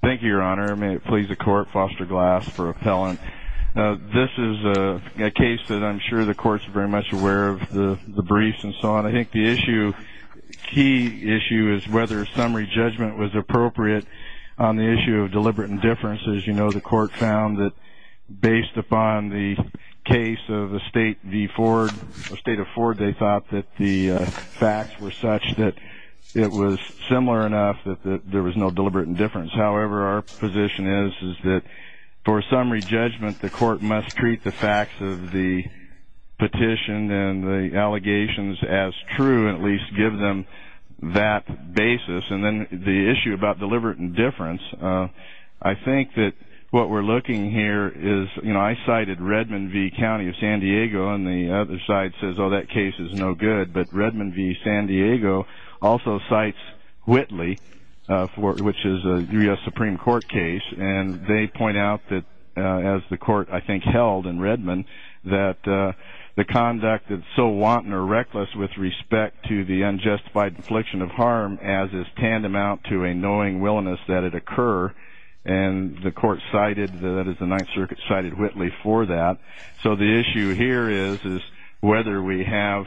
Thank you, Your Honor. May it please the Court, Foster Glass for Appellant. This is a case that I'm sure the Court's very much aware of, the briefs and so on. I think the issue, key issue, is whether summary judgment was appropriate on the issue of deliberate indifference. As you know, the Court found that based upon the case of the State v. Ford, however, our position is that for summary judgment, the Court must treat the facts of the petition and the allegations as true, at least give them that basis. And then the issue about deliberate indifference, I think that what we're looking here is, you know, I cited Redmond v. County of San Diego, and the other side says, oh, that case is no good. But Redmond v. San Diego also cites Whitley, which is a U.S. Supreme Court case. And they point out that, as the Court, I think, held in Redmond, that the conduct is so wanton or reckless with respect to the unjustified infliction of harm as is tantamount to a knowing willingness that it occur. And the Court cited, that is, the Ninth Circuit cited Whitley for that. So the issue here is whether you have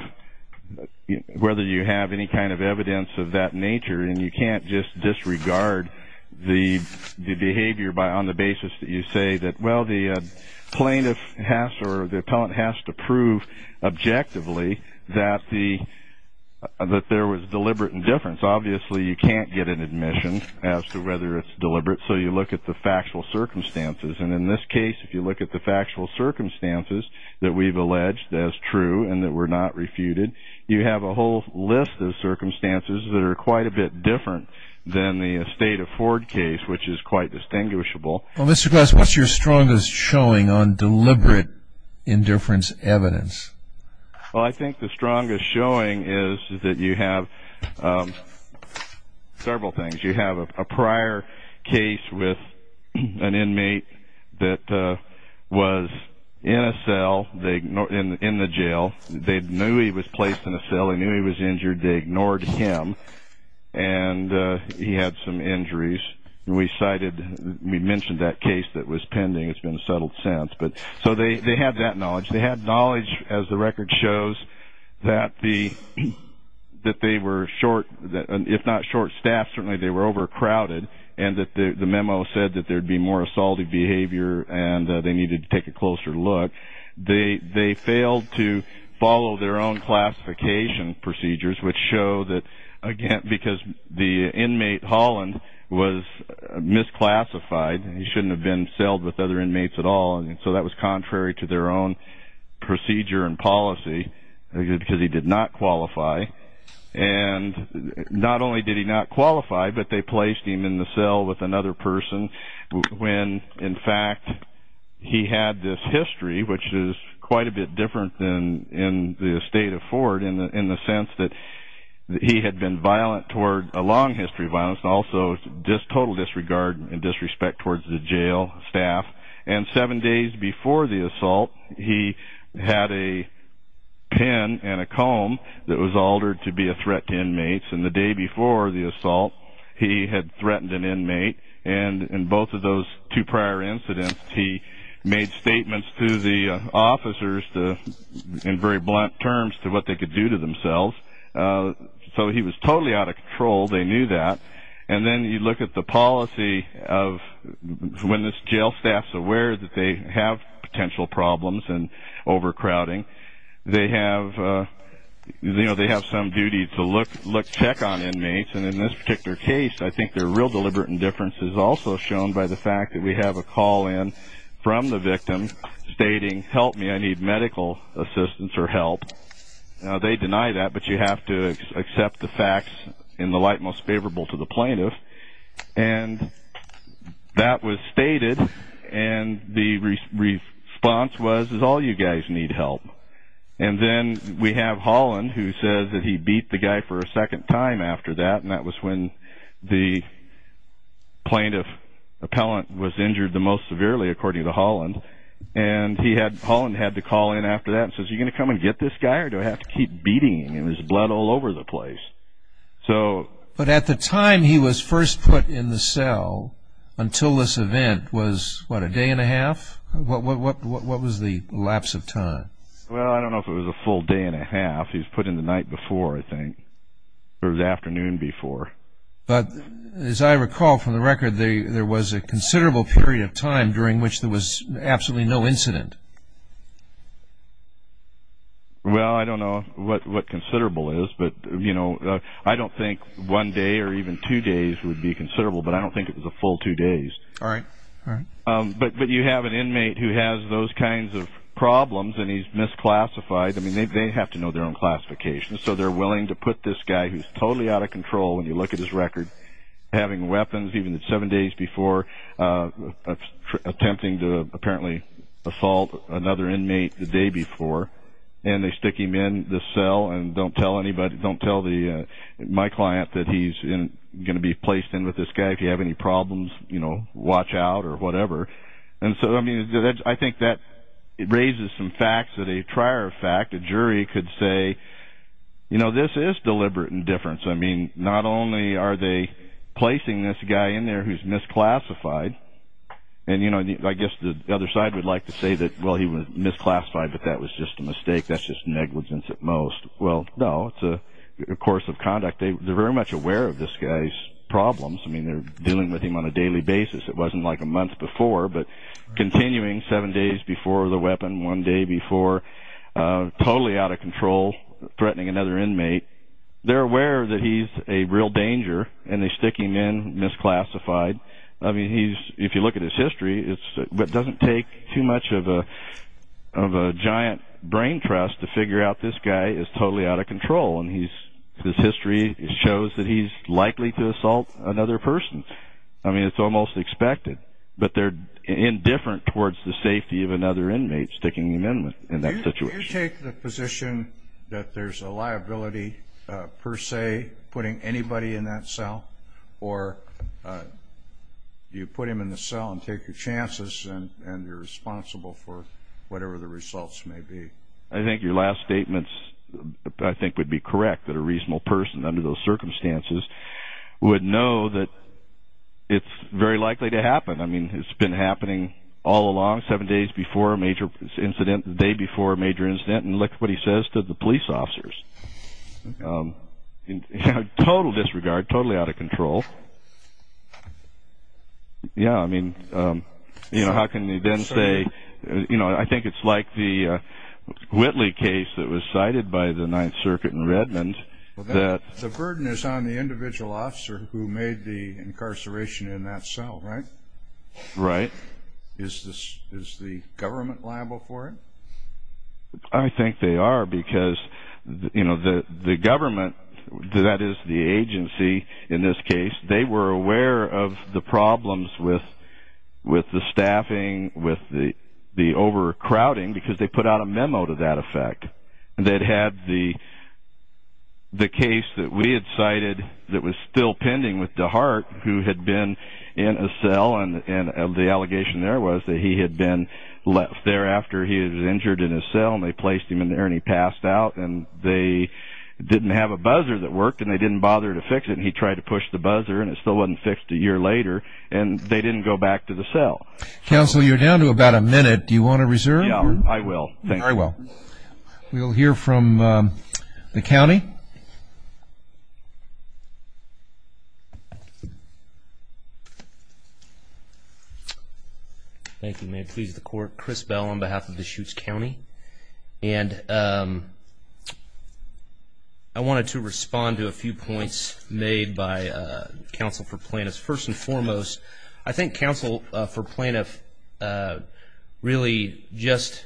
any kind of evidence of that nature, and you can't just disregard the behavior on the basis that you say that, well, the plaintiff has or the appellant has to prove objectively that there was deliberate indifference. Obviously, you can't get an admission as to whether it's deliberate. So you look at the factual circumstances. And in this case, if you look at the factual circumstances that we've alleged as true and that were not refuted, you have a whole list of circumstances that are quite a bit different than the estate of Ford case, which is quite distinguishable. Well, Mr. Glass, what's your strongest showing on deliberate indifference evidence? Well, I think the strongest showing is that you have several things. You have a prior case with an inmate that was in a cell, in the jail. They knew he was placed in a cell. They knew he was injured. They ignored him. And he had some injuries. And we cited, we mentioned that case that was pending. It's been settled since. So they had that knowledge. They had knowledge, as the record shows, that they were short, if not short staffed, certainly they were overcrowded, and that the memo said that there would be more assaultive behavior and they needed to take a closer look. They failed to follow their own classification procedures, which show that, again, because the inmate, Holland, was misclassified. He shouldn't have been celled with other inmates at all. So that was contrary to their own procedure and policy because he did not qualify. And not only did he not qualify, but they placed him in the cell with another person when, in fact, he had this history, which is quite a bit different than in the state of Ford in the sense that he had been violent toward, a long history of violence, and also total disregard and disrespect towards the jail staff. And seven days before the assault, he had a pen and a comb that was altered to be a threat to inmates. And the day before the assault, he had threatened an inmate. And in both of those two prior incidents, he made statements to the officers in very blunt terms to what they could do to themselves. So he was totally out of control. They knew that. And then you look at the policy of when the jail staff is aware that they have potential problems and overcrowding, they have some duty to check on inmates. And in this particular case, I think their real deliberate indifference is also shown by the fact that we have a call in from the victim stating, help me, I need medical assistance or help. Now, they deny that, but you have to accept the facts in the light most favorable to the plaintiff. And that was stated, and the response was, is all you guys need help. And then we have Holland, who says that he beat the guy for a second time after that, and that was when the plaintiff appellant was injured the most severely, according to Holland. And Holland had to call in after that and says, are you going to come and get this guy or do I have to keep beating him? There was blood all over the place. But at the time he was first put in the cell, until this event, was what, a day and a half? What was the lapse of time? Well, I don't know if it was a full day and a half. He was put in the night before, I think, or the afternoon before. But as I recall from the record, there was a considerable period of time during which there was absolutely no incident. Well, I don't know what considerable is, but, you know, I don't think one day or even two days would be considerable, but I don't think it was a full two days. All right. But you have an inmate who has those kinds of problems and he's misclassified. I mean, they have to know their own classifications, so they're willing to put this guy who's totally out of control, when you look at his record, having weapons even seven days before, attempting to apparently assault another inmate the day before, and they stick him in the cell and don't tell my client that he's going to be placed in with this guy. If you have any problems, you know, watch out or whatever. And so, I mean, I think that raises some facts that a trier of fact, a jury, could say, you know, this is deliberate indifference. I mean, not only are they placing this guy in there who's misclassified, and, you know, I guess the other side would like to say that, well, he was misclassified, but that was just a mistake, that's just negligence at most. Well, no, it's a course of conduct. They're very much aware of this guy's problems. I mean, they're dealing with him on a daily basis. It wasn't like a month before, but continuing seven days before the weapon, one day before, totally out of control, threatening another inmate. They're aware that he's a real danger, and they stick him in, misclassified. I mean, if you look at his history, it doesn't take too much of a giant brain trust to figure out this guy is totally out of control, and his history shows that he's likely to assault another person. So, I mean, it's almost expected, but they're indifferent towards the safety of another inmate sticking him in in that situation. Do you take the position that there's a liability, per se, putting anybody in that cell? Or do you put him in the cell and take your chances, and you're responsible for whatever the results may be? I think your last statements, I think, would be correct, that a reasonable person under those circumstances would know that it's very likely to happen. I mean, it's been happening all along, seven days before a major incident, the day before a major incident, and look what he says to the police officers. Total disregard, totally out of control. Yeah, I mean, how can you then say, you know, I think it's like the Whitley case that was cited by the Ninth Circuit in Redmond. The burden is on the individual officer who made the incarceration in that cell, right? Right. Is the government liable for it? I think they are, because, you know, the government, that is the agency in this case, they were aware of the problems with the staffing, with the overcrowding, because they put out a memo to that effect that had the case that we had cited that was still pending with DeHart, who had been in a cell, and the allegation there was that he had been left there after he was injured in a cell, and they placed him in there, and he passed out, and they didn't have a buzzer that worked, and they didn't bother to fix it, and he tried to push the buzzer, and it still wasn't fixed a year later, and they didn't go back to the cell. Counsel, you're down to about a minute. Do you want to reserve? Yeah, I will. Thank you. Very well. We'll hear from the county. Thank you. May it please the Court. Chris Bell on behalf of Deschutes County. And I wanted to respond to a few points made by counsel for plaintiffs. First and foremost, I think counsel for plaintiff really just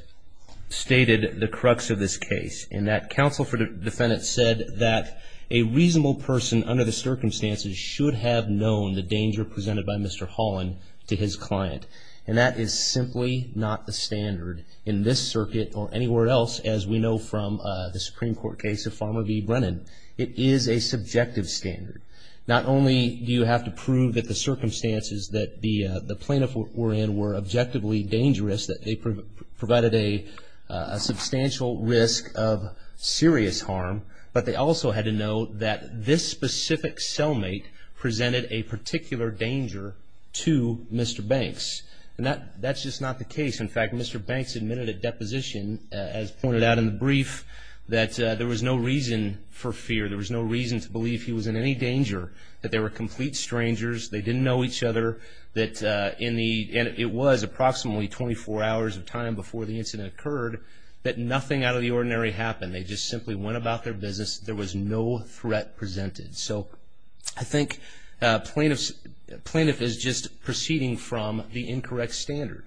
stated the crux of this case in that counsel for defendant said that a reasonable person under the circumstances should have known the danger presented by Mr. Holland to his client, and that is simply not the standard in this circuit or anywhere else, as we know from the Supreme Court case of Farmer v. Brennan. It is a subjective standard. Not only do you have to prove that the circumstances that the plaintiff were in were objectively dangerous, that they provided a substantial risk of serious harm, but they also had to know that this specific cellmate presented a particular danger to Mr. Banks. And that's just not the case. In fact, Mr. Banks admitted at deposition, as pointed out in the brief, that there was no reason for fear, there was no reason to believe he was in any danger, that they were complete strangers, they didn't know each other, and it was approximately 24 hours of time before the incident occurred that nothing out of the ordinary happened. They just simply went about their business. There was no threat presented. So I think plaintiff is just proceeding from the incorrect standard.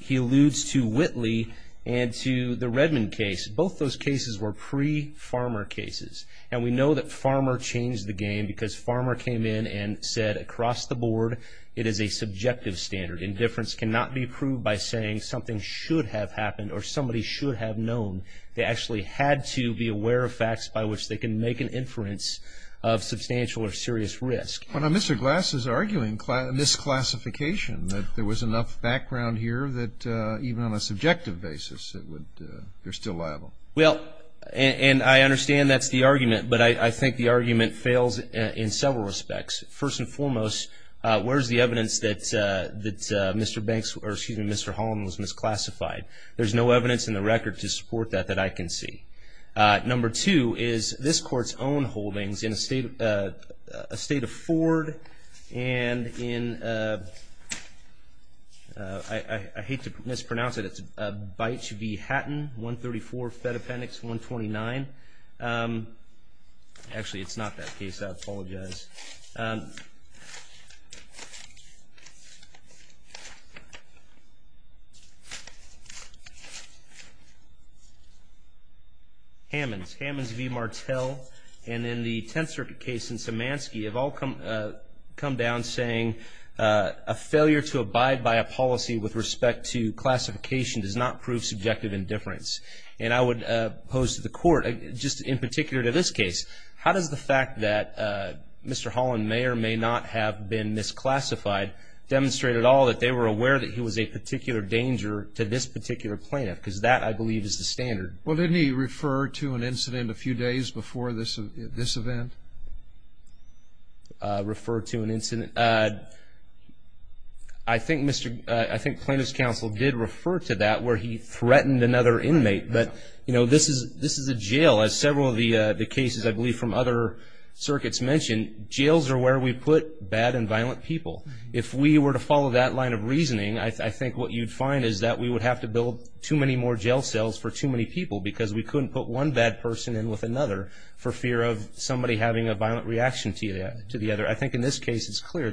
He alludes to Whitley and to the Redmond case. Both those cases were pre-Farmer cases, and we know that Farmer changed the game because Farmer came in and said across the board it is a subjective standard. Indifference cannot be proved by saying something should have happened or somebody should have known. They actually had to be aware of facts by which they can make an inference of substantial or serious risk. Well, now, Mr. Glass is arguing misclassification, that there was enough background here that even on a subjective basis it would be still liable. Well, and I understand that's the argument, but I think the argument fails in several respects. First and foremost, where is the evidence that Mr. Banks, or excuse me, Mr. Holland was misclassified? There's no evidence in the record to support that that I can see. Number two is this court's own holdings in a state of Ford and in, I hate to mispronounce it, it's Bych v. Hatton, 134 Fed Appendix 129. Actually, it's not that case. I apologize. Hammons, Hammons v. Martel, and in the Tenth Circuit case in Szymanski have all come down saying, a failure to abide by a policy with respect to classification does not prove subjective indifference. And I would pose to the court, just in particular to this case, how does the fact that Mr. Holland, Mayor, may not have been misclassified demonstrate at all that they were aware that he was a particular danger to this particular plaintiff? Because that, I believe, is the standard. Well, didn't he refer to an incident a few days before this event? Refer to an incident? I think plaintiff's counsel did refer to that where he threatened another inmate. But, you know, this is a jail. As several of the cases, I believe, from other circuits mentioned, jails are where we put bad and violent people. If we were to follow that line of reasoning, I think what you'd find is that we would have to build too many more jail cells for too many people because we couldn't put one bad person in with another for fear of somebody having a violent reaction to the other. I think in this case, it's clear.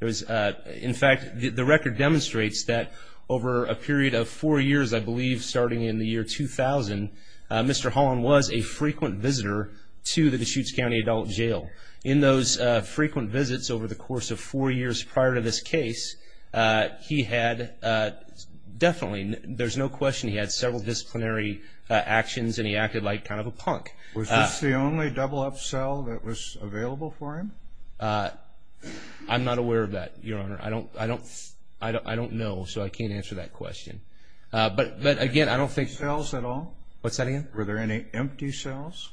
In fact, the record demonstrates that over a period of four years, I believe, starting in the year 2000, Mr. Holland was a frequent visitor to the Deschutes County Adult Jail. In those frequent visits over the course of four years prior to this case, he had definitely, there's no question, he had several disciplinary actions and he acted like kind of a punk. Was this the only double-up cell that was available for him? I'm not aware of that, Your Honor. I don't know, so I can't answer that question. But, again, I don't think. Cells at all? What's that again? Were there any empty cells?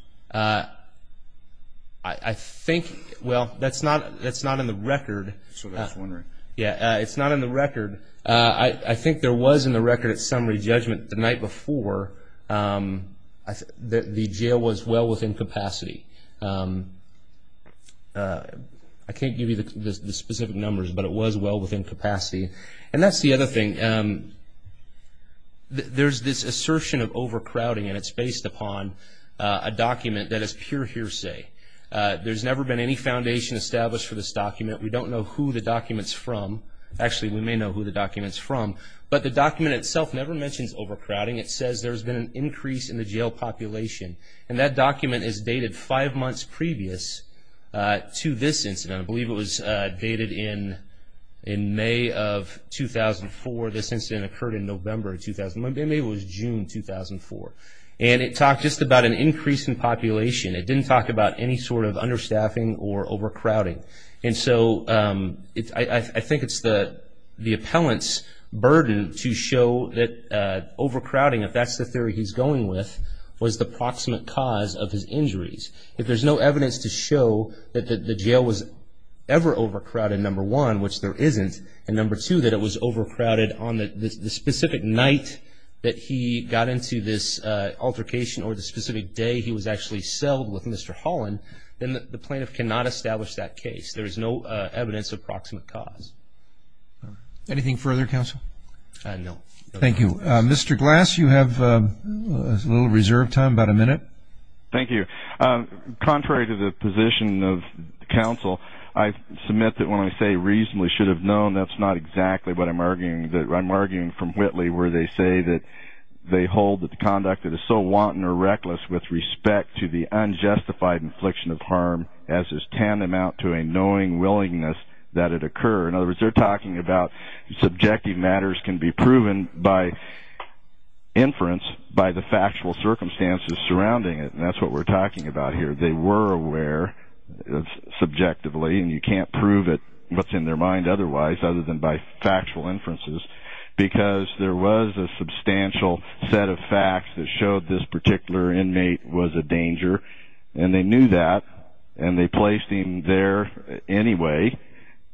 I think, well, that's not in the record. That's what I was wondering. Yeah, it's not in the record. I think there was in the record at summary judgment the night before that the jail was well within capacity. I can't give you the specific numbers, but it was well within capacity. And that's the other thing. There's this assertion of overcrowding and it's based upon a document that is pure hearsay. There's never been any foundation established for this document. We don't know who the document's from. Actually, we may know who the document's from. But the document itself never mentions overcrowding. It says there's been an increase in the jail population. And that document is dated five months previous to this incident. I believe it was dated in May of 2004. This incident occurred in November of 2001. Maybe it was June 2004. And it talked just about an increase in population. It didn't talk about any sort of understaffing or overcrowding. And so I think it's the appellant's burden to show that overcrowding, if that's the theory he's going with, was the proximate cause of his injuries. If there's no evidence to show that the jail was ever overcrowded, number one, which there isn't, and number two, that it was overcrowded on the specific night that he got into this altercation or the specific day he was actually selled with Mr. Holland, then the plaintiff cannot establish that case. There is no evidence of proximate cause. Anything further, counsel? No. Thank you. Mr. Glass, you have a little reserve time, about a minute. Thank you. Contrary to the position of counsel, I submit that when I say reasonably should have known, that's not exactly what I'm arguing. I'm arguing from Whitley where they say that they hold that the conduct that is so wanton or reckless with respect to the unjustified infliction of harm as is tantamount to a knowing willingness that it occur. In other words, they're talking about subjective matters can be proven by inference, by the factual circumstances surrounding it, and that's what we're talking about here. They were aware subjectively, and you can't prove what's in their mind otherwise. Other than by factual inferences. Because there was a substantial set of facts that showed this particular inmate was a danger, and they knew that and they placed him there anyway,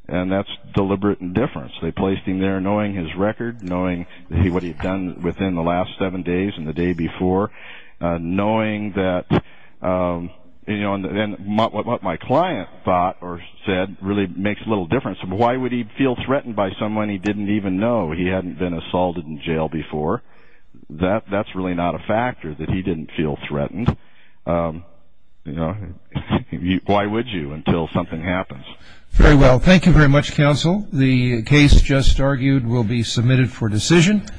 and that's deliberate indifference. They placed him there knowing his record, knowing what he had done within the last seven days and the day before, knowing that what my client thought or said really makes little difference. Why would he feel threatened by someone he didn't even know? He hadn't been assaulted in jail before. That's really not a factor that he didn't feel threatened. Why would you until something happens? Very well. Thank you very much, counsel. The case just argued will be submitted for decision.